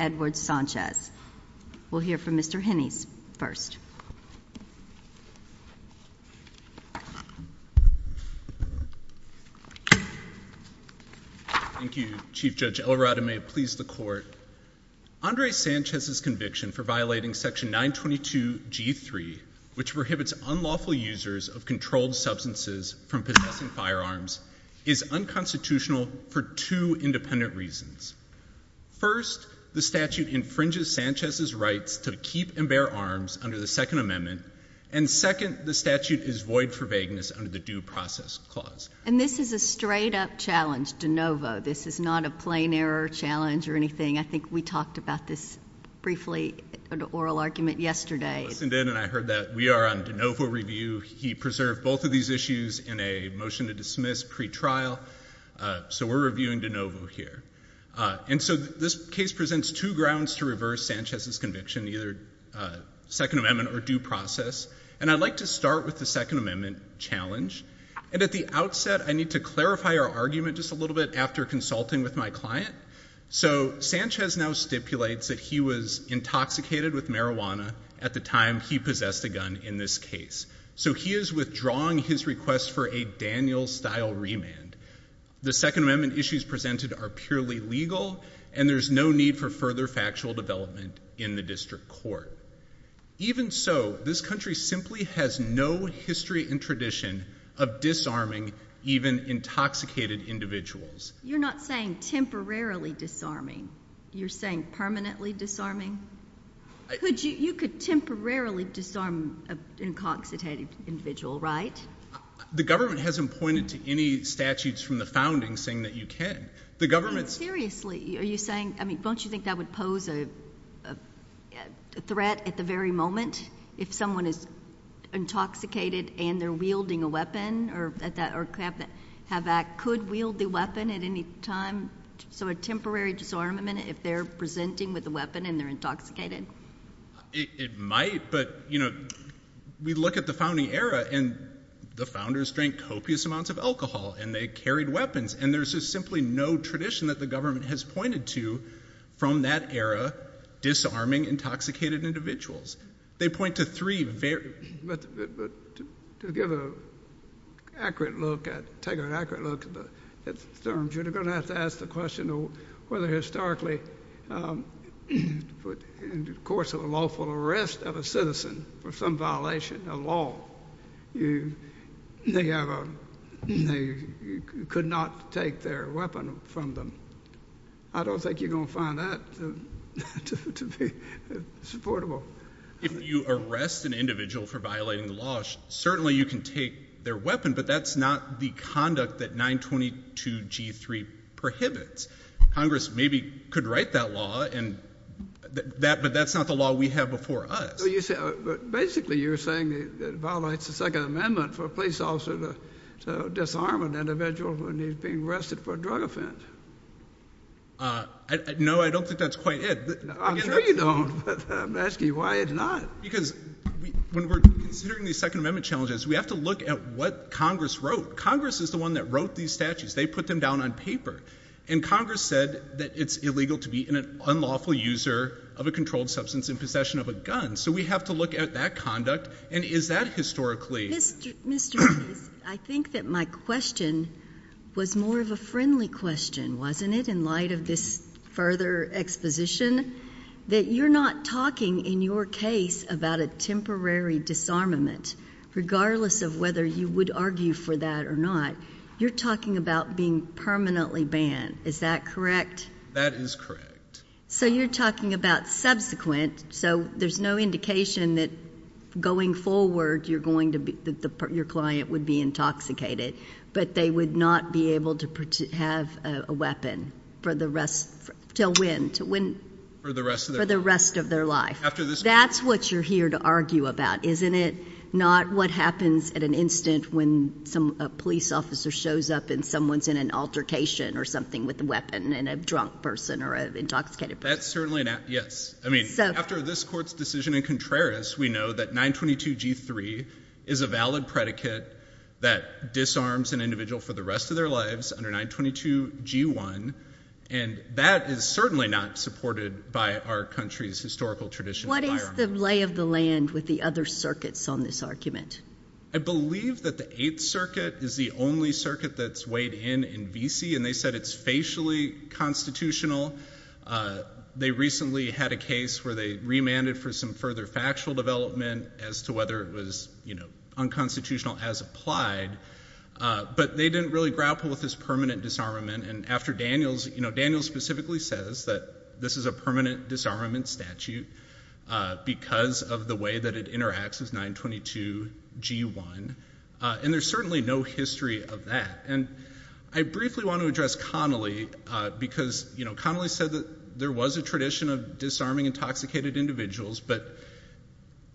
Edward Sanchez. We'll hear from Mr. Henney's first. Thank you, Chief Judge Elorado. May it please the court. Andre Sanchez's conviction for violating Section 922 G3, which prohibits unlawful users of controlled substances from possessing firearms, is unconstitutional for two independent reasons. First, the statute infringes Sanchez's rights to keep and bear arms under the Second Amendment. And second, the statute is void for vagueness under the Due Process Clause. And this is a straight up challenge de novo. This is not a plain error challenge or anything. I think we talked about this briefly in an oral argument yesterday. I listened in and I heard that. We are on de novo review. He preserved both of these And so this case presents two grounds to reverse Sanchez's conviction, either Second Amendment or due process. And I'd like to start with the Second Amendment challenge. And at the outset, I need to clarify our argument just a little bit after consulting with my client. So Sanchez now stipulates that he was intoxicated with marijuana at the time he possessed a gun in this case. So he is withdrawing his request for a Daniel-style remand. The Second Amendment statutes presented are purely legal and there's no need for further factual development in the district court. Even so, this country simply has no history and tradition of disarming even intoxicated individuals. You're not saying temporarily disarming. You're saying permanently disarming? You could temporarily disarm an intoxicated individual, right? The government hasn't pointed to any statutes from the founding saying that you can. The government's... Seriously, are you saying, I mean, don't you think that would pose a threat at the very moment if someone is intoxicated and they're wielding a weapon or could wield the weapon at any time? So a temporary disarmament if they're presenting with a weapon and they're intoxicated? It might, but, you know, we look at the founding era and the founders drank copious amounts of alcohol and they carried weapons and there's just simply no tradition that the government has pointed to from that era disarming intoxicated individuals. They point to three very... But to give an accurate look at, take an accurate look at the terms, you're going to have to question whether historically in the course of a lawful arrest of a citizen for some violation of law, they could not take their weapon from them. I don't think you're going to find that to be supportable. If you arrest an individual for violating the law, certainly you can take their weapon, but that's not the conduct that 922G3 prohibits. Congress maybe could write that law, but that's not the law we have before us. But basically you're saying that it violates the Second Amendment for a police officer to disarm an individual when he's being arrested for a drug offense. No, I don't think that's quite it. I'm sure you don't, but I'm asking you why it's not. Because when we're considering these Second Amendment challenges, we have to look at what Congress wrote. Congress is the one that wrote these statutes. They put them down on paper. And Congress said that it's illegal to be an unlawful user of a controlled substance in possession of a gun. So we have to look at that conduct, and is that historically... Mr. Davis, I think that my question was more of a friendly question, wasn't it, in light of this further exposition? That you're not talking, in your case, about a temporary disarmament, regardless of whether you would argue for that or not. You're talking about being permanently banned. Is that correct? That is correct. So you're talking about subsequent, so there's no indication that going forward your client would be intoxicated, but they would not be able to have a weapon for the rest of their life. That's what you're here to argue about, isn't it? Not what happens at an instant when a police officer shows up and someone's in an altercation or something with a weapon and a drunk person or an intoxicated person. That's certainly an... Yes. I mean, after this Court's decision in Contreras, we know that 922G3 is a valid predicate that disarms an individual for the rest of their lives under 922G1, and that is certainly not supported by our country's historical tradition. What is the lay of the land with the other circuits on this argument? I believe that the Eighth Circuit is the only circuit that's weighed in in V.C., and they said it's facially constitutional. They recently had a case where they remanded for some further factual development as to whether it was unconstitutional as applied, but they didn't really grapple with this permanent disarmament, and after Daniels... Daniels specifically says that this is a permanent disarmament statute because of the way that it interacts with 922G1, and there's certainly no history of that. I briefly want to address Connolly because Connolly said that there was a tradition of disarming intoxicated individuals, but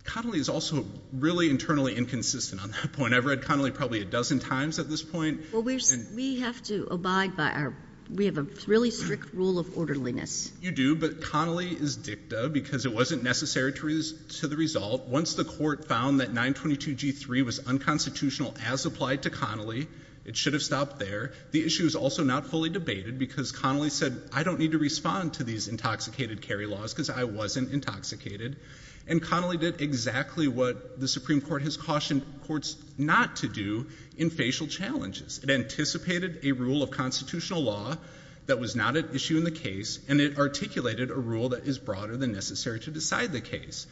Connolly is also really internally inconsistent on that point. I've read Connolly probably a dozen times at this point. Well, we have to abide by our... We have a really strict rule of orderliness. You do, but Connolly is dicta because it wasn't necessary to the result. Once the Court found that 922G3 was unconstitutional as applied to Connolly, it should have stopped there. The issue is also not fully debated because Connolly said, I don't need to respond to these intoxicated carry laws because I wasn't intoxicated, and Connolly did exactly what the Supreme Court has cautioned courts not to do in facial challenges. It anticipated a rule of constitutional law that was not an issue in the case, and it articulated a rule that is broader than necessary to decide the case.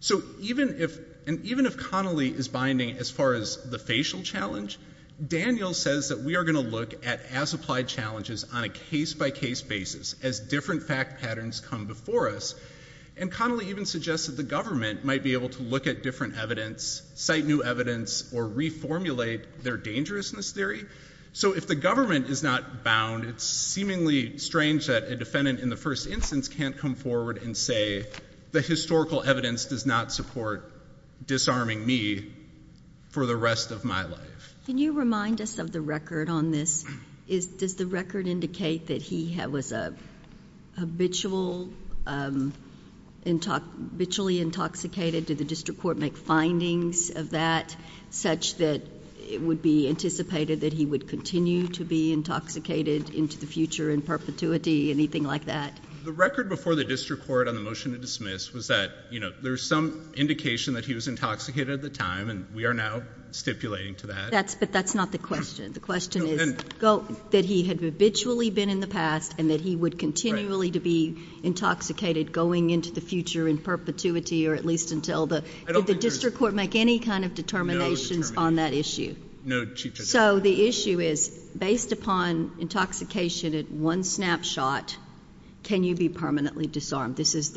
So even if... And even if Connolly is binding as far as the facial challenge, Daniels says that we are going to look at as-applied challenges on a case-by-case basis as different fact patterns come before us, and Connolly even suggests that the government might be able to look at different evidence, cite new evidence, or reformulate their dangerousness theory. So if the government is not bound, it's seemingly strange that a defendant in the first instance can't come forward and say, the historical evidence does not support disarming me for the rest of my life. Can you remind us of the record on this? Does the record indicate that he was a habitual... Habitually intoxicated? Did the district court make findings of that such that it would be anticipated that he would continue to be intoxicated into the future in perpetuity, anything like that? The record before the district court on the motion to dismiss was that, you know, there was some indication that he was intoxicated at the time, and we are now stipulating to that. But that's not the question. The question is that he had habitually been in the past and that he would continually be intoxicated going into the future in perpetuity, or at least until the... Did the district court make any kind of determinations on that issue? No, Chief Justice. So the issue is, based upon intoxication at one snapshot, can you be permanently disarmed? This is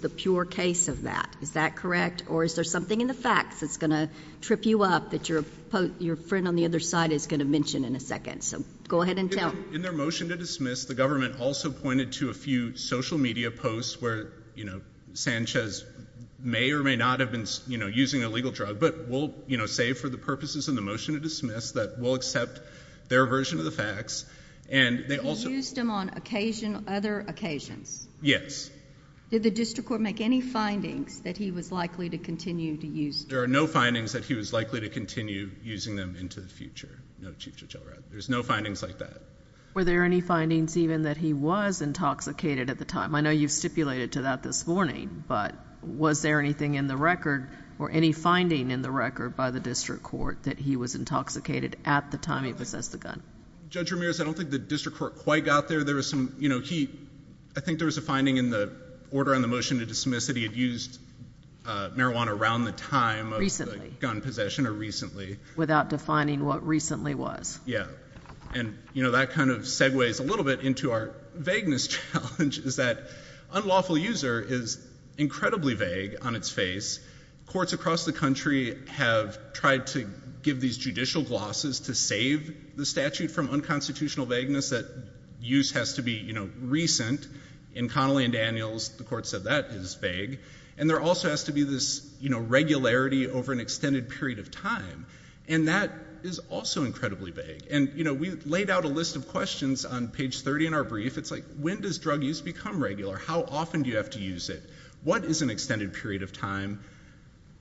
the pure case of that. Is that correct? Or is there something in the facts that's going to trip you up that your friend on the other side is going to mention in a second? So go ahead and tell. In their motion to dismiss, the government also pointed to a few social media posts where, you know, Sanchez may or may not have been, you know, using a legal drug, but we'll, you know, say for the purposes of the motion to dismiss that we'll accept their version of the facts, and they also... He used them on occasion, other occasions? Yes. Did the district court make any findings that he was likely to continue to use them? There are no findings that he was likely to continue using them into the future. No, Chief Judge Elrod. There's no findings like that. Were there any findings even that he was intoxicated at the time? I know you've stipulated to that this morning, but was there anything in the record, or any finding in the record by the district court that he was intoxicated at the time he possessed the gun? Judge Ramirez, I don't think the district court quite got there. There was some, you know, he... I think there was a finding in the order on the motion to dismiss that he had used marijuana around the time of the gun possession, or recently. Without defining what recently was. Yeah. And, you know, that kind of segues a little bit into our vagueness challenge, is that unlawful user is incredibly vague on its face. Courts across the country have tried to give these judicial glosses to save the statute from unconstitutional vagueness, that use has to be, you know, recent. In Connelly and Daniels, the court said that is vague. And there also has to be this, you know, regularity over an extended period of time. And that is also incredibly vague. And, you know, we laid out a list of questions on page 30 in our brief. It's like, when does drug use become regular? How often do you have to use it? What is an extended period of time?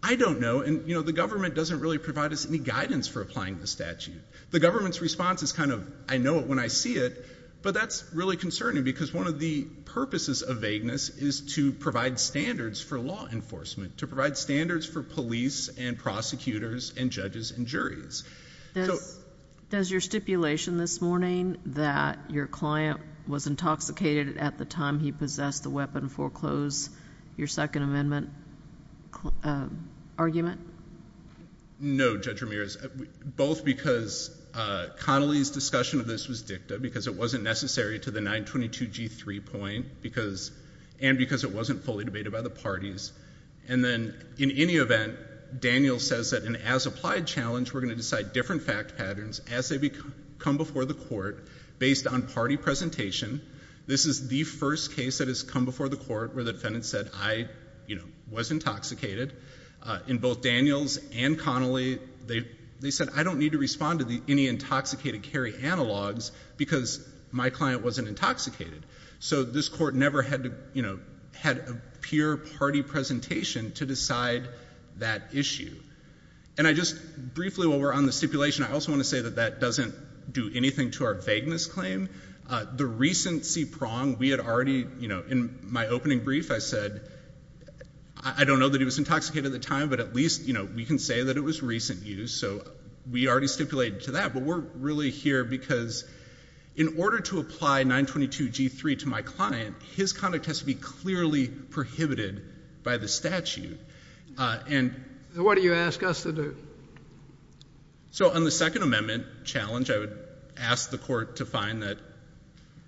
I don't know. And, you know, the government doesn't really provide us any guidance for applying the statute. The government's response is kind of, I know it when I see it. But that's really concerning. Because one of the purposes of vagueness is to provide standards for law enforcement. To provide standards for police and prosecutors and judges and juries. Does your stipulation this morning that your client was intoxicated at the time he possessed the weapon foreclose your Second Amendment argument? No, Judge Ramirez. Both because Connelly's discussion of this was dicta. Because it wasn't necessary to the 922G3 point. And because it wasn't fully debated by the parties. And then, in any event, Daniels says that an as-applied challenge, we're going to decide different fact patterns as they come before the court based on party presentation. This is the first case that has come before the court where the defendant said, I, you know, was intoxicated. In both Daniels and Connelly, they said, I don't need to respond to any intoxicated carry analogs because my client wasn't intoxicated. So this court never had to, you know, had a peer party presentation to decide that issue. And I just briefly, while we're on the stipulation, I also want to say that that doesn't do anything to our vagueness claim. The recent C-prong, we had already, you know, in my opening brief, I said, I don't know that he was intoxicated at the time, but at least, you know, we can say that it was recent use. So we already stipulated to that. But we're really here because in order to apply 922G3 to my client, his conduct has to be clearly prohibited by the statute. And— What do you ask us to do? So on the Second Amendment challenge, I would ask the court to find that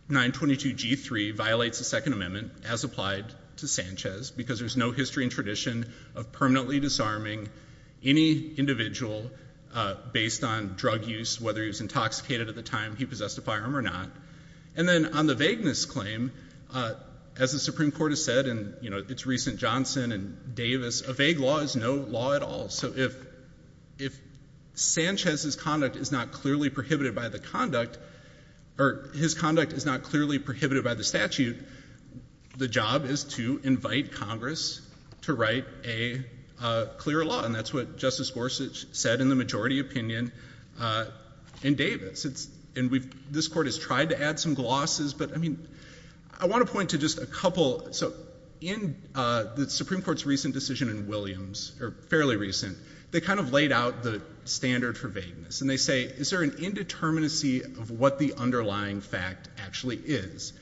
922G3 violates the Second Amendment as applied to Sanchez because there's no history and tradition of permanently disarming any individual based on drug use, whether he was intoxicated at the time he possessed a firearm or not. And then on the vagueness claim, as the Supreme Court has said, Johnson and Davis, a vague law is no law at all. So if Sanchez's conduct is not clearly prohibited by the conduct, or his conduct is not clearly prohibited by the statute, the job is to invite Congress to write a clear law. And that's what Justice Gorsuch said in the majority opinion in Davis. And this Court has tried to add some glosses, but I mean, I want to point to just a couple. So in the Supreme Court's recent decision in Williams, or fairly recent, they kind of laid out the standard for vagueness. And they say, is there an indeterminacy of what the underlying fact actually is?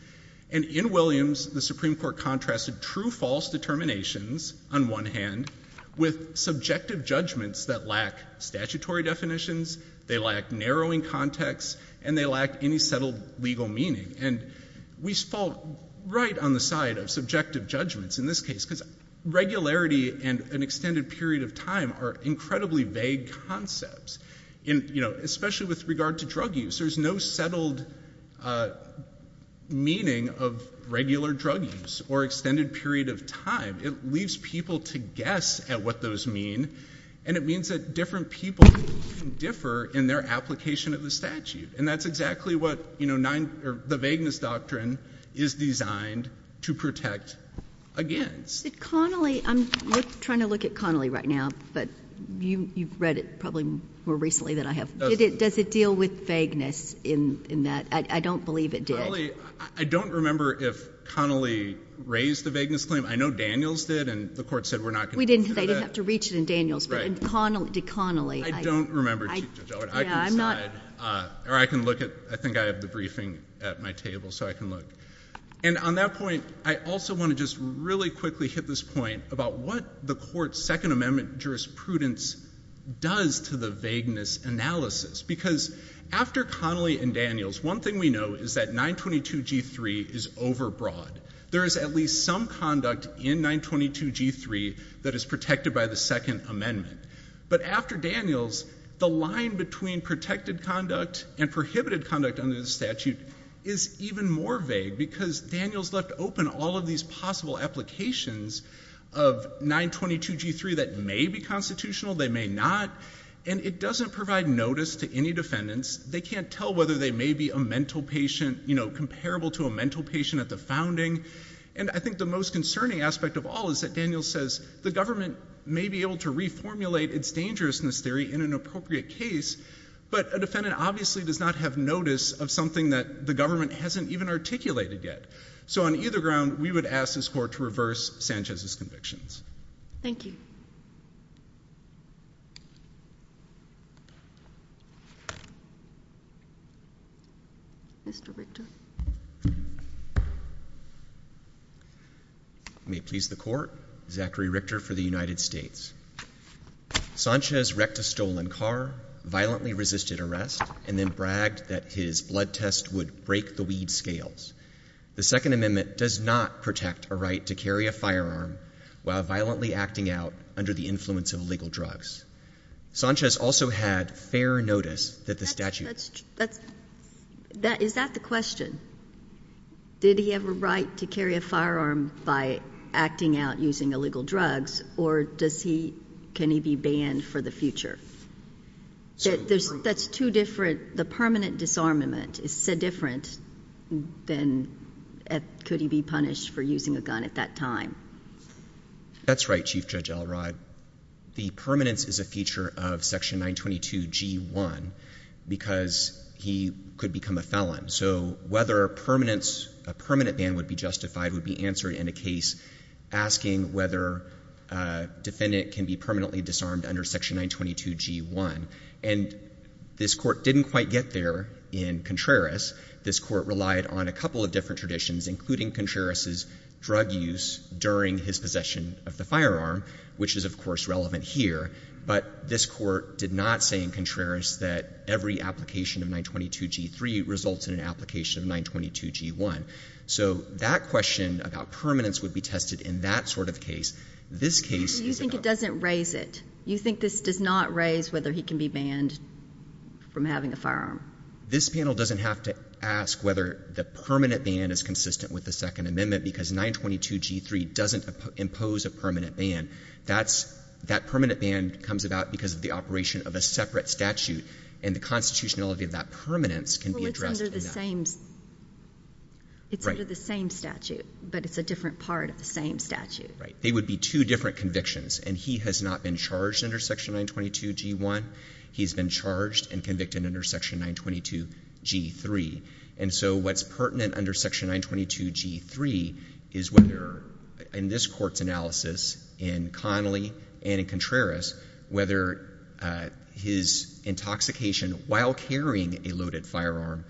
And in Williams, the Supreme Court contrasted true-false determinations, on one hand, with subjective judgments that lack statutory definitions, they lack narrowing context, and they lack any settled legal meaning. And we fall right on the side of subjective judgments in this case, because regularity and an extended period of time are incredibly vague concepts, especially with regard to drug use. There's no settled meaning of regular drug use or extended period of time. It leaves people to guess at what those mean, and it means that different people differ in their application of the statute. And that's exactly what, you know, the vagueness doctrine is designed to protect against. Did Connolly, I'm trying to look at Connolly right now, but you've read it probably more recently than I have. Does it deal with vagueness in that? I don't believe it did. Connolly, I don't remember if Connolly raised the vagueness claim. I know Daniels did, and the Court said we're not going to do that. We didn't, they didn't have to reach it in Daniels, but did Connolly? I don't remember, Judge Elwood. I can decide, or I can look at, I think I have the briefing at my table, so I can look. And on that point, I also want to just really quickly hit this point about what the Court's Second Amendment jurisprudence does to the vagueness analysis. Because after Connolly and Daniels, one thing we know is that 922g3 is overbroad. There is at least some conduct in 922g3 that is protected by the Second Amendment. But after Daniels, the line between protected conduct and prohibited conduct under the statute is even more vague, because Daniels left open all of these possible applications of 922g3 that may be constitutional, they may not, and it doesn't provide notice to any defendants. They can't tell whether they may be a mental patient, you know, comparable to a mental patient at the founding. And I think the most concerning aspect of all is that Daniels says the government may be able to reformulate its dangerousness theory in an appropriate case, but a defendant obviously does not have notice of something that the government hasn't even articulated yet. So on either ground, we would ask this Court to reverse Sanchez's Thank you. Mr. Victor. May it please the Court, Zachary Richter for the United States. Sanchez wrecked a stolen car, violently resisted arrest, and then bragged that his blood test would break the weed scales. The Second Amendment does not protect a right to carry a firearm while violently acting out under the influence of illegal drugs. Sanchez also had fair notice that the statute That's, that's, is that the question? Did he have a right to carry a firearm by acting out using illegal drugs, or does he, can he be banned for the future? That's two different, the permanent disarmament is so different than could he be punished for using a gun at that time. That's right, Chief Judge Elrod. The permanence is a feature of Section 922G1 because he could become a felon. So whether permanence, a permanent ban would be justified would be answered in a case asking whether a defendant can be permanently disarmed under Section 922G1. And this Court didn't quite get there in Contreras. This Court relied on a couple of different traditions, including Contreras's drug use during his possession of the firearm, which is, of course, relevant here. But this Court did not say in Contreras that every application of 922G3 results in an application of 922G1. So that question about permanence would be tested in that sort of case. This case is about... So you think it doesn't raise it? You think this does not raise whether he can be banned from having a firearm? This panel doesn't have to ask whether the permanent ban is consistent with the Second Amendment because 922G3 doesn't impose a permanent ban. That permanent ban comes about because of the operation of a separate statute, and the constitutionality of that permanence can be addressed in that. Well, it's under the same statute, but it's a different part of the same statute. Right. They would be two different convictions. And he has not been charged under Section 922G3. And so what's pertinent under Section 922G3 is whether, in this Court's analysis, in Connolly and in Contreras, whether his intoxication while carrying a loaded firearm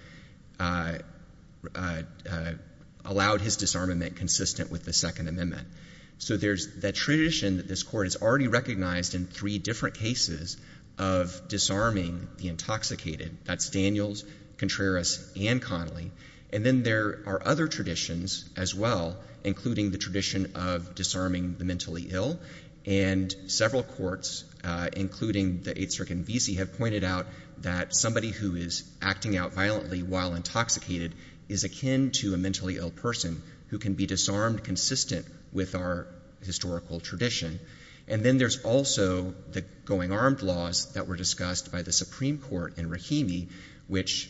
allowed his disarmament consistent with the Second Amendment. So there's that tradition that this Court has already recognized in three different cases of disarming the intoxicated. That's Daniels, Contreras, and Connolly. And then there are other traditions as well, including the tradition of disarming the mentally ill. And several courts, including the Eighth Circuit and Vesey, have pointed out that somebody who is acting out violently while intoxicated is akin to a mentally ill person who can be disarmed consistent with our historical tradition. And then there's also the going armed laws that were discussed by the Supreme Court in Okemah, which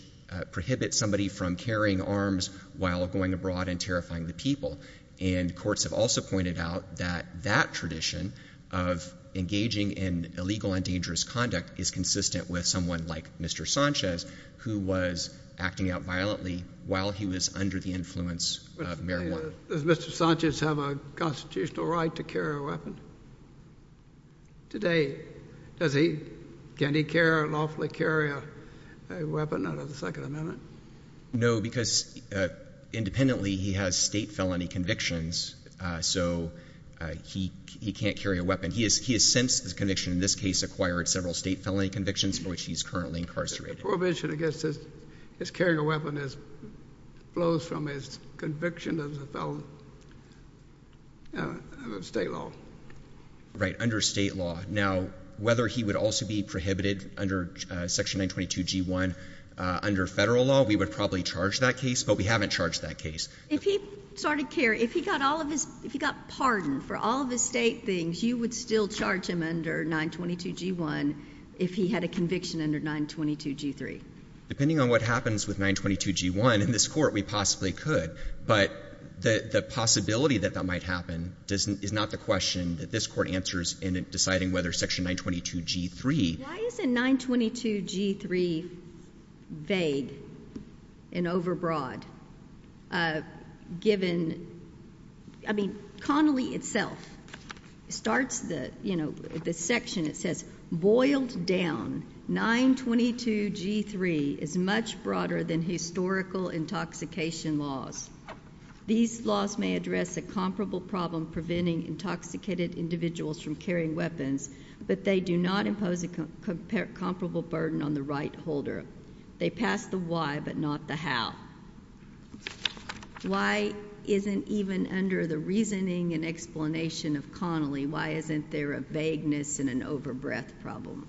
prohibits somebody from carrying arms while going abroad and terrifying the people. And courts have also pointed out that that tradition of engaging in illegal and dangerous conduct is consistent with someone like Mr. Sanchez, who was acting out violently while he was under the influence of Mayor Warren. Does Mr. Sanchez have a constitutional right to carry a weapon? Today, does he? Can he care and lawfully carry a weapon under the Second Amendment? No, because independently, he has state felony convictions, so he can't carry a weapon. He has since, his conviction in this case, acquired several state felony convictions for which he's currently incarcerated. The prohibition against his carrying a weapon flows from his conviction as a felon of state law. Right, under state law. Now, whether he would also be prohibited under Section 922g1 under federal law, we would probably charge that case, but we haven't charged that case. If he started carrying, if he got all of his, if he got pardoned for all of his state things, you would still charge him under 922g1 if he had a conviction under 922g3? Depending on what happens with 922g1 in this court, we possibly could. But the possibility that that might happen is not the question that this court answers in deciding whether Section 922g3. Why isn't 922g3 vague and overbroad, given, I mean, Connolly itself starts the, you know, the section that says, boiled down, 922g3 is much broader than historical intoxication laws. These laws may address a comparable problem preventing intoxicated individuals from carrying weapons, but they do not impose a comparable burden on the right holder. They pass the why, but not the how. Why isn't even under the reasoning and explanation of Connolly, why isn't there a vagueness and an overbreath problem?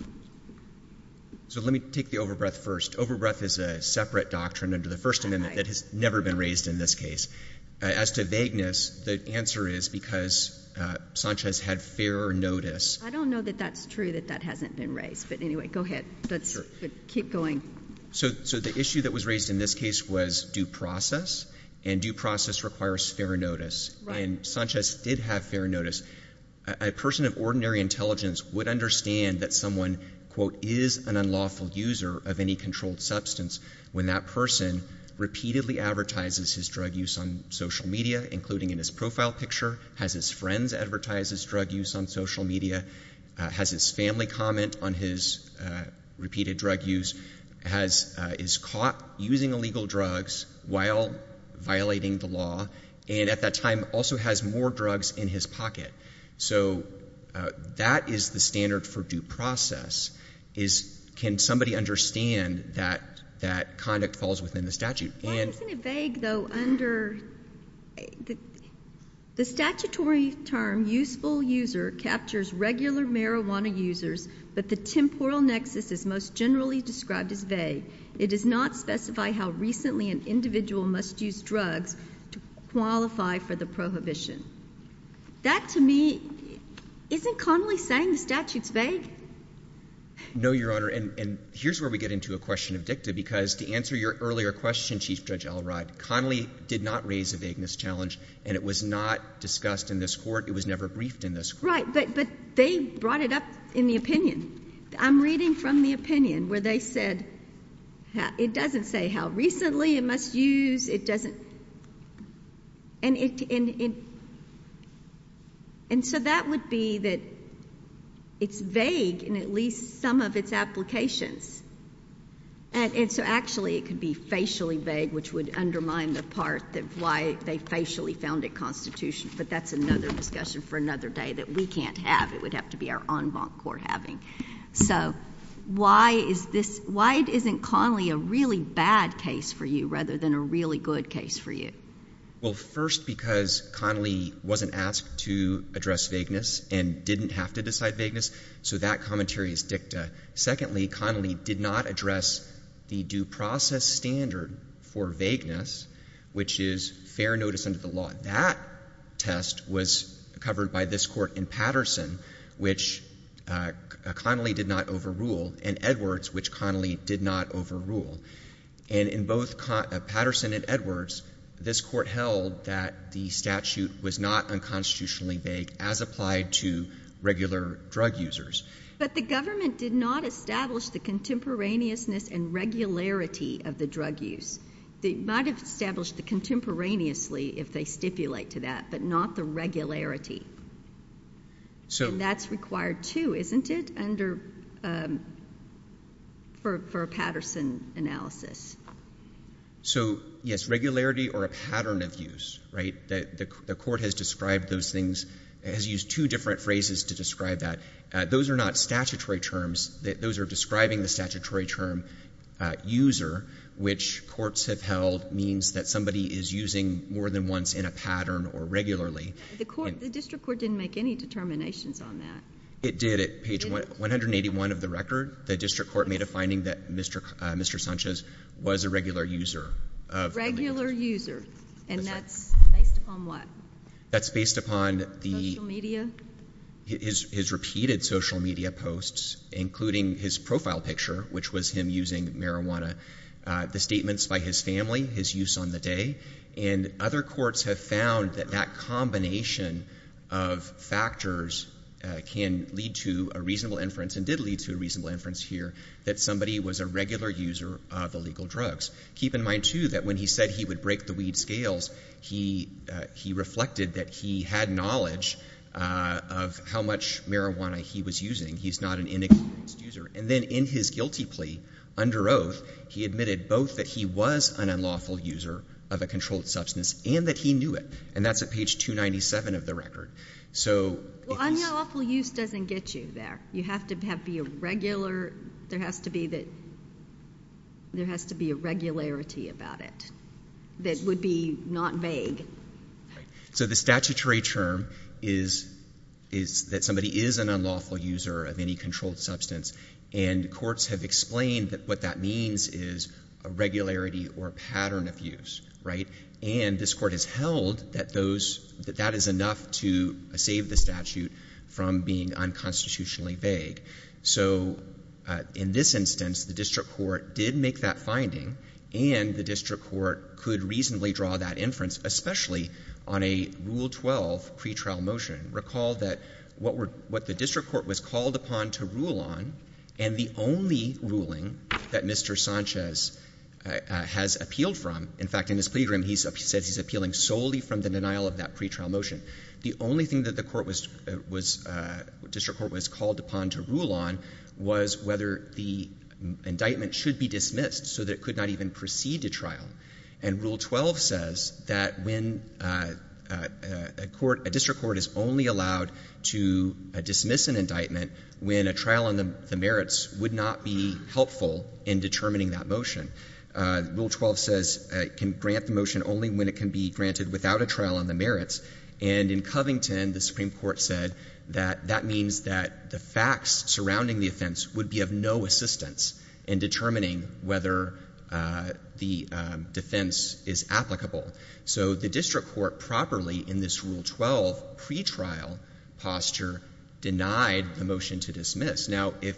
So let me take the overbreath first. Overbreath is a separate doctrine under the First Amendment that has never been raised in this case. As to vagueness, the answer is because Sanchez had fair notice. I don't know that that's true, that that hasn't been raised. But anyway, go ahead. Keep going. So the issue that was raised in this case was due process, and due process requires fair notice. Right. And Sanchez did have fair notice. A person of ordinary intelligence would understand that someone, quote, is an unlawful user of any controlled substance when that person repeatedly advertises his drug use on social media, including in his profile picture, has his friends advertise his drug use on social media, has his family comment on his repeated drug use, is caught using illegal drugs while violating the law, and at that time also has more drugs in his pocket. So that is the standard for due process, is can somebody understand that that conduct falls within the statute. Why isn't it vague, though, under the statutory term useful user captures regular marijuana users, but the temporal nexus is most generally described as vague. It does not specify how recently an individual must use drugs to qualify for the prohibition. That to me, isn't Connolly saying the statute's vague? No, Your Honor, and here's where we get into a question of dicta, because to answer your earlier question, Chief Judge Elrod, Connolly did not raise a vagueness challenge, and it was not discussed in this court. It was never briefed in this court. Right, but they brought it up in the opinion. I'm reading from the opinion where they said it doesn't say how recently it must use, it doesn't, and it, and so that would be that it's vague in at least some of its applications, and so actually it could be facially vague, which would undermine the part of why they facially found it constitutional, but that's another discussion for another day that we can't have. It would have to be our en banc court having. So why is this, why isn't Connolly a really bad case for you rather than a really good case for you? Well, first, because Connolly wasn't asked to address vagueness and didn't have to decide vagueness, so that commentary is dicta. Secondly, Connolly did not address the due process standard for vagueness, which is fair notice under the law. That test was covered by this Patterson, which Connolly did not overrule, and Edwards, which Connolly did not overrule. And in both Patterson and Edwards, this court held that the statute was not unconstitutionally vague as applied to regular drug users. But the government did not establish the contemporaneousness and regularity of the drug use. They might have established the contemporaneously if they stipulate to that, but not the regularity. And that's required too, isn't it, for a Patterson analysis? So yes, regularity or a pattern of use. The court has described those things, has used two different phrases to describe that. Those are not statutory terms. Those are describing the statutory term, user, which courts have held means that somebody is using more than once in a pattern or regularly. The court, the district court didn't make any determinations on that. It did. At page 181 of the record, the district court made a finding that Mr. Sanchez was a regular user. Regular user. And that's based upon what? That's based upon the Social media? His repeated social media posts, including his profile picture, which was him using marijuana. The statements by his family, his use on the day. And other courts have found that that combination of factors can lead to a reasonable inference and did lead to a reasonable inference here that somebody was a regular user of illegal drugs. Keep in mind too that when he said he would break the weed scales, he reflected that he had knowledge of how much marijuana he was using. He's not an inexperienced user. And then in his guilty plea under oath, he admitted both that he was an unlawful user of a controlled substance and that he knew it. And that's at page 297 of the record. So unlawful use doesn't get you there. You have to be a regular, there has to be a regularity about it that would be not vague. So the statutory term is that somebody is an unlawful user of any controlled substance. And courts have explained that what that means is a regularity or a pattern of use, right? And this court has held that that is enough to save the statute from being unconstitutionally vague. So in this instance, the district court did make that finding and the district court could reasonably draw that inference, especially on a Rule 12 pretrial motion. Recall that what the district court was called upon to rule on and the only ruling that Mr. Sanchez has appealed from, in fact, in his plea agreement, he says he's appealing solely from the denial of that pretrial motion. The only thing that the district court was called upon to rule on was whether the indictment should be dismissed so that it could not even proceed to trial. And Rule 12 says that when a court, a district court is only allowed to dismiss an indictment when a trial on the merits would not be helpful in determining that motion. Rule 12 says it can grant the motion only when it can be granted without a trial on the merits. And in Covington, the Supreme Court said that that means that the facts surrounding the offense would be of no assistance in determining whether the defense is applicable. So the district court properly in this Rule 12 pretrial posture denied the motion to dismiss. Now, if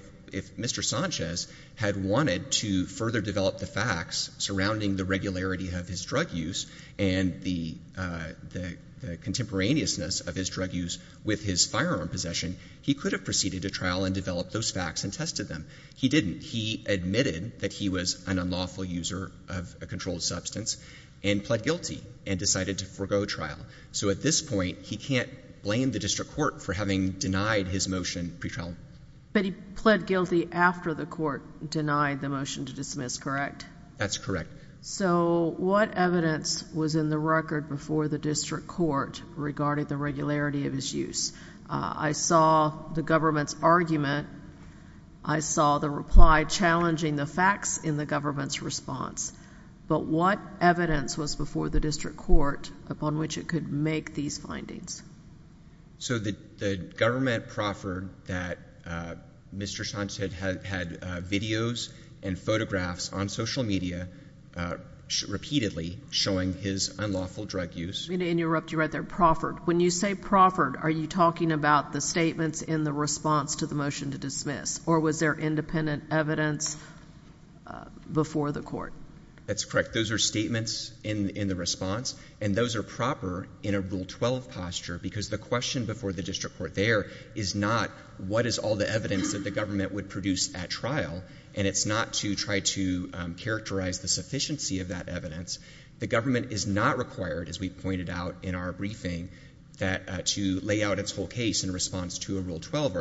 Mr. Sanchez had wanted to further develop the facts surrounding the regularity of his drug use and the contemporaneousness of his drug use with his firearm possession, he could have proceeded to trial and developed those facts and tested them. He didn't. He admitted that he was an unlawful user of a controlled substance and pled guilty and decided to forego trial. So at this point, he can't blame the district court for having denied his motion pretrial. But he pled guilty after the court denied the motion to dismiss, correct? That's correct. So what evidence was in the record before the district court regarding the regularity of his use? I saw the government's argument. I saw the reply challenging the facts in the government's response. But what evidence was before the district court upon which it could make these findings? So the government proffered that Mr. Sanchez had videos and photographs on social media repeatedly showing his unlawful drug use. I'm going to interrupt you right there. Proffered. When you say proffered, are you talking about the statements in the response to the motion to dismiss? Or was there independent evidence before the court? That's correct. Those are statements in the response. And those are proper in a Rule 12 posture because the question before the district court there is not what is all the evidence that the government would produce at trial. And it's not to try to characterize the sufficiency of that evidence. The government is not required, as we pointed out in our briefing, to lay out its whole case in response to a Rule 12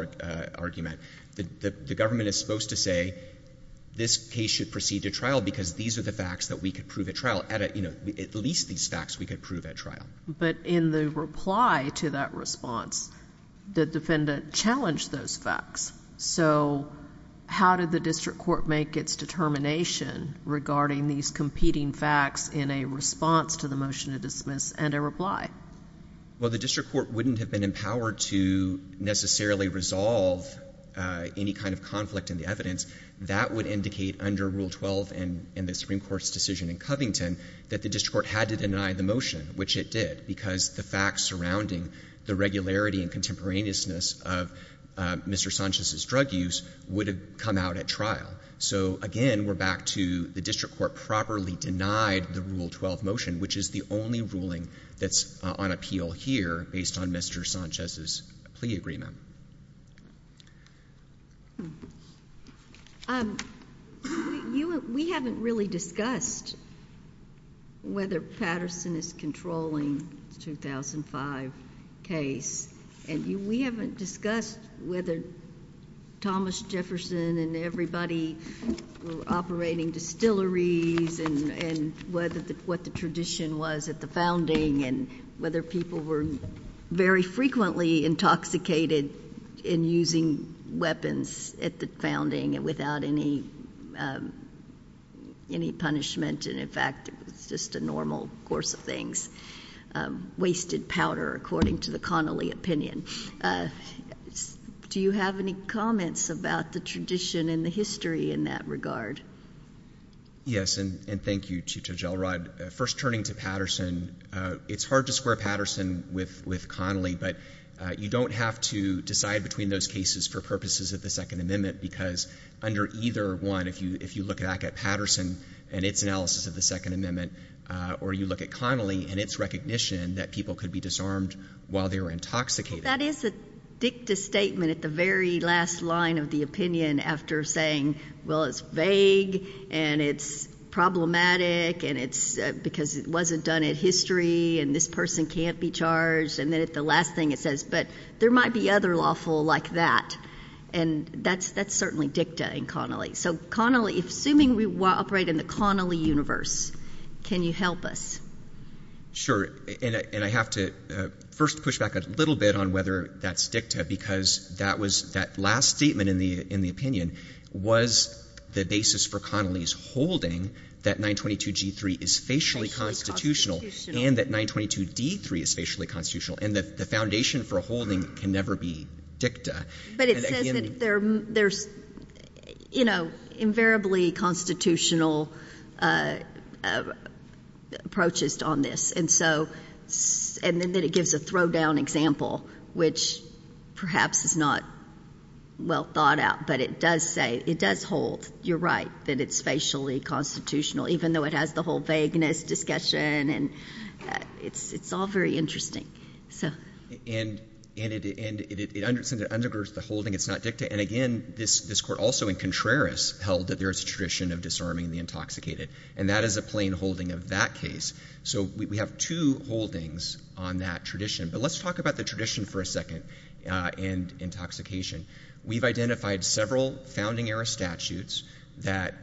argument. The government is supposed to say this case should proceed to trial because these are the facts that we could prove at trial. At least these facts we could prove at trial. But in the reply to that response, the defendant challenged those facts. So how did the district court make its determination regarding these competing facts in a response to the motion to dismiss and a reply? Well, the district court wouldn't have been empowered to necessarily resolve any kind of conflict in the evidence. That would indicate under Rule 12 in the Supreme Court's decision in Covington that the district court had to deny the motion, which it did, because the facts surrounding the regularity and contemporaneousness of Mr. Sanchez's drug use would have come out at trial. So again, we're back to the district court properly denied the Rule 12 motion, which is the only ruling that's on appeal here based on Mr. Sanchez's plea agreement. We haven't really discussed whether Patterson is controlling the 2005 case. And we haven't discussed whether Thomas Jefferson and everybody were operating distilleries and what the tradition was at the founding and whether people were very frequently intoxicated in using weapons at the founding without any punishment. And in fact, it was just a normal course of things. Wasted powder, according to the Connolly opinion. Do you have any comments about the tradition and the history in that regard? Yes, and thank you, Judge Elrod. First, turning to Patterson, it's hard to square Patterson with Connolly, but you don't have to decide between those cases for purposes of the Second Amendment, because under either one, if you look back at Patterson and its analysis of the Second Amendment, or you look at Connolly and its recognition that people could be disarmed while they were intoxicated. That is a dicta statement at the very last line of the opinion after saying, well, it's vague, and it's problematic, and it's because it wasn't done in history, and this person can't be charged. And then at the last thing it says, but there might be other lawful like that. And that's certainly dicta in Connolly. So Connolly, assuming we operate in the Connolly universe, can you help us? Sure. And I have to first push back a little bit on whether that's dicta, because that was — that last statement in the opinion was the basis for Connolly's holding that 922G3 is facially constitutional and that 922D3 is facially constitutional. And the foundation for holding can never be dicta. But it says that there's, you know, invariably constitutional approaches on this. And so — and then it gives a throw-down example, which perhaps is not well thought out, but it does say — it does hold, you're right, that it's facially constitutional, even though it has the whole vagueness discussion, and it's all very interesting. So — And it undergirds the holding it's not dicta. And again, this Court also in Contreras held that there is a tradition of disarming the intoxicated. And that is a plain holding of that case. So we have two holdings on that tradition. But let's talk about the tradition for a second and intoxication. We've identified several founding-era statutes that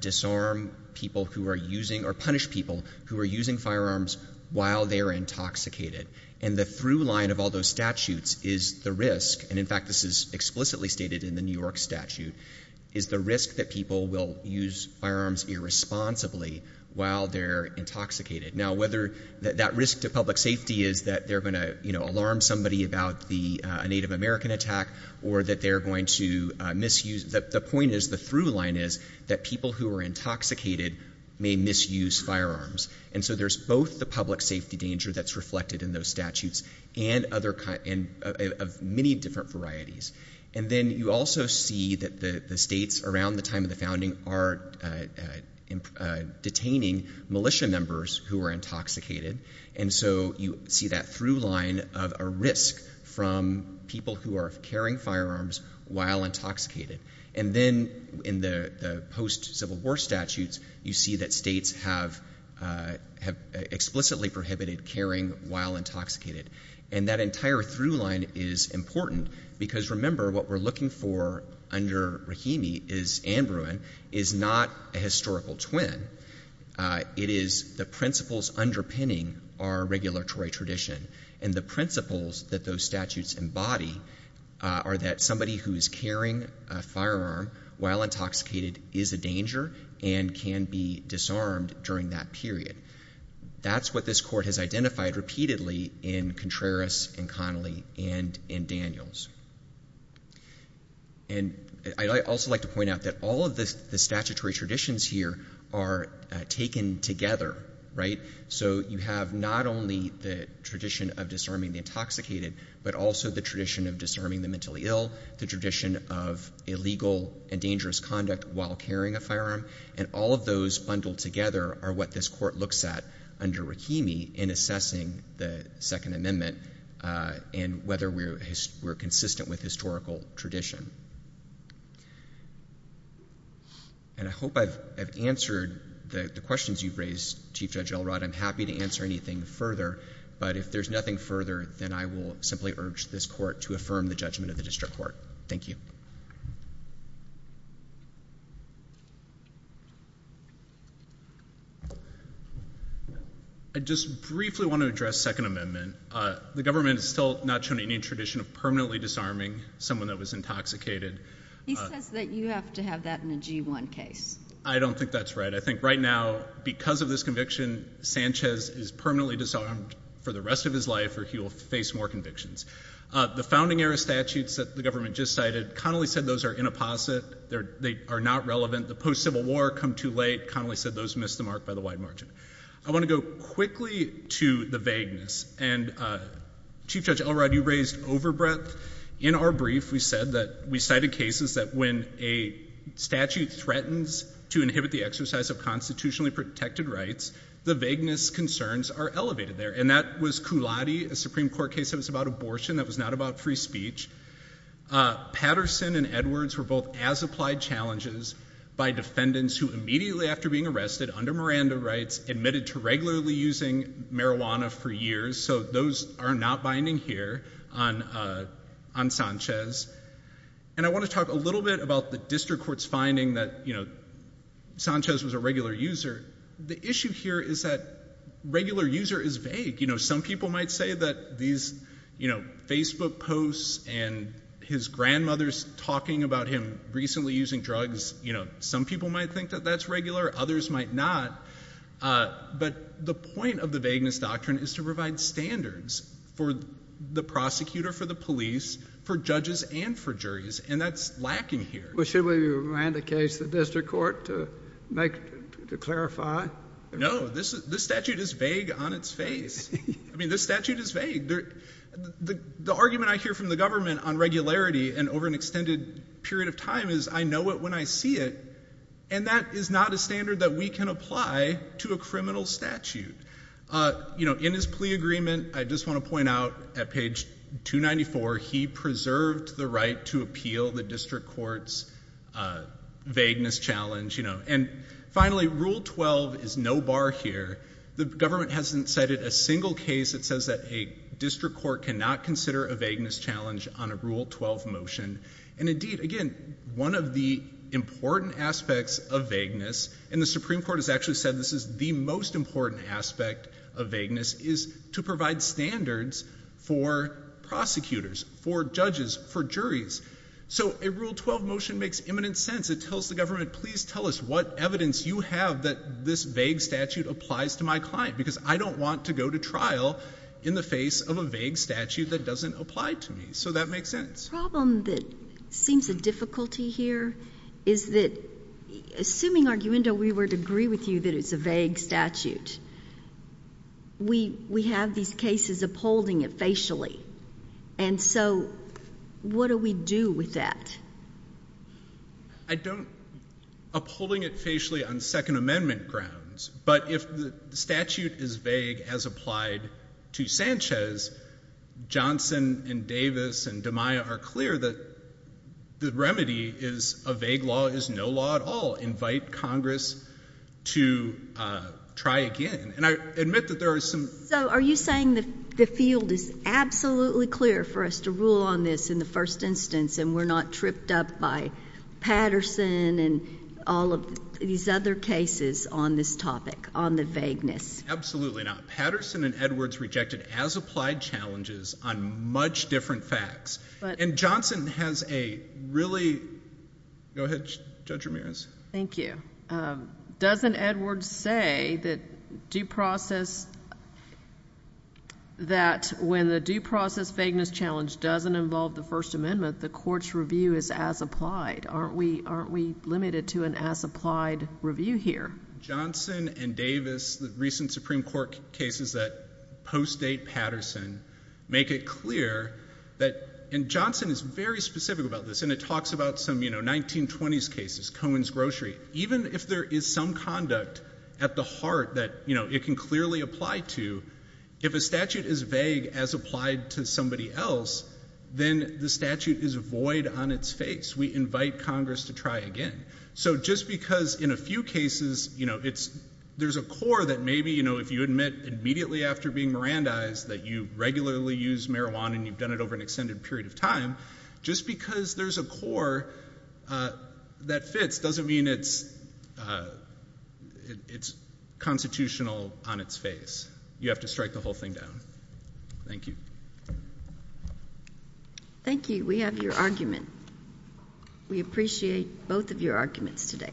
disarm people who are using — or punish people who are using firearms while they are intoxicated. And the through-line of all those statutes is the risk — and in fact, this is explicitly stated in the New York statute — is the risk that people will use firearms irresponsibly while they're intoxicated. Now, whether — that risk to public safety is that they're going to, you know, alarm somebody about the — a Native American attack, or that they're going to misuse — the point is, the through-line is that people who are intoxicated may misuse firearms. And so there's both the public safety danger that's reflected in those statutes and other — and of many different varieties. And then you also see that the states around the time of the founding are detaining militia members who are intoxicated. And so you see that through-line of a risk from people who are carrying firearms while intoxicated. And then in the post-Civil War statutes, you see that states have explicitly prohibited carrying while intoxicated. And that entire through-line is important because, remember, what we're looking for under Rahimi is — and Bruin — is not a historical twin. It is the principles underpinning our regulatory tradition. And the principles that those statutes embody are that somebody who is carrying a firearm while intoxicated is a danger and can be disarmed during that period. That's what this Court has identified repeatedly in Contreras and Connolly and in Daniels. And I'd also like to point out that all of the statutory traditions here are taken together, right? So you have not only the tradition of disarming the intoxicated, but also the tradition of disarming the mentally ill, the tradition of illegal and dangerous conduct while carrying a firearm. And all of those bundled together are what this Court looks at under Rahimi in assessing the Second Amendment and whether we're consistent with historical tradition. And I hope I've answered the questions you've raised, Chief Judge Elrod. I'm happy to answer anything further. But if there's nothing further, then I will simply urge this Court to affirm the judgment of the District Court. Thank you. I just briefly want to address Second Amendment. The government has still not shown any tradition of permanently disarming someone that was intoxicated. He says that you have to have that in a G1 case. I don't think that's right. I think right now, because of this conviction, Sanchez is disarmed for the rest of his life or he will face more convictions. The founding-era statutes that the government just cited, Connolly said those are inapposite. They are not relevant. The post-Civil War come too late. Connolly said those missed the mark by the wide margin. I want to go quickly to the vagueness. And, Chief Judge Elrod, you raised overbreadth. In our brief, we said that we cited cases that when a statute threatens to inhibit the exercise of constitutionally protected rights, the vagueness concerns are elevated there. And that was Cullati, a Supreme Court case that was about abortion that was not about free speech. Patterson and Edwards were both as-applied challenges by defendants who immediately after being arrested, under Miranda rights, admitted to regularly using marijuana for years. So those are not binding here on Sanchez. I want to talk a little bit about the district court's finding that Sanchez was a regular user. The issue here is that regular user is vague. Some people might say that these Facebook posts and his grandmother's talking about him recently using drugs, some people might think that that's regular. Others might not. But the point of the vagueness doctrine is to provide standards for the prosecutor, for the police, for judges, and for juries. And that's lacking here. Well, should we remand the case to the district court to clarify? No. This statute is vague on its face. I mean, this statute is vague. The argument I hear from the government on regularity and over an extended period of time is I know it when I see it. And that is not a standard that we can apply to a criminal statute. You know, in his plea agreement, I just want to point out at page 294, he preserved the right to appeal the district court's vagueness challenge. And finally, Rule 12 is no bar here. The government hasn't cited a single case that says that a district court cannot consider a vagueness challenge on a Rule 12 motion. And indeed, again, one of the important aspects of vagueness, and the Supreme Court has actually said this is the most important aspect of vagueness, is to provide standards for prosecutors, for judges, for juries. So a Rule 12 motion makes imminent sense. It tells the government, please tell us what evidence you have that this vague statute applies to my client, because I don't want to go to trial in the face of a vague statute that doesn't apply to me. So that makes sense. The problem that seems a difficulty here is that, assuming, Arguindo, we were to agree with you that it's a vague statute, we have these cases upholding it facially. And so what do we do with that? I don't—upholding it facially on Second Amendment grounds. But if the statute is vague as applied to Sanchez, Johnson and Davis and DeMaio are clear that the remedy is a vague statute, vague law is no law at all. Invite Congress to try again. And I admit that there are some— So are you saying that the field is absolutely clear for us to rule on this in the first instance and we're not tripped up by Patterson and all of these other cases on this topic, on the vagueness? Absolutely not. Patterson and Edwards rejected as-applied challenges on much different facts. And Johnson has a really—go ahead, Judge Ramirez. Thank you. Doesn't Edwards say that due process—that when the due process vagueness challenge doesn't involve the First Amendment, the court's review is as-applied? Aren't we limited to an as-applied review here? Johnson and Davis, the recent Supreme Court cases that post-date Patterson, make it clear that—and Johnson is very specific about this and it talks about some 1920s cases, Cohen's Grocery. Even if there is some conduct at the heart that it can clearly apply to, if a statute is vague as applied to somebody else, then the statute is void on its face. We invite Congress to try again. So just because in a few cases there's a core that maybe if you admit immediately after being Mirandized that you regularly use marijuana and you've done it over an extended period of time, just because there's a core that fits doesn't mean it's constitutional on its face. You have to strike the whole thing down. Thank you. Thank you. We have your argument. We appreciate both of your arguments today.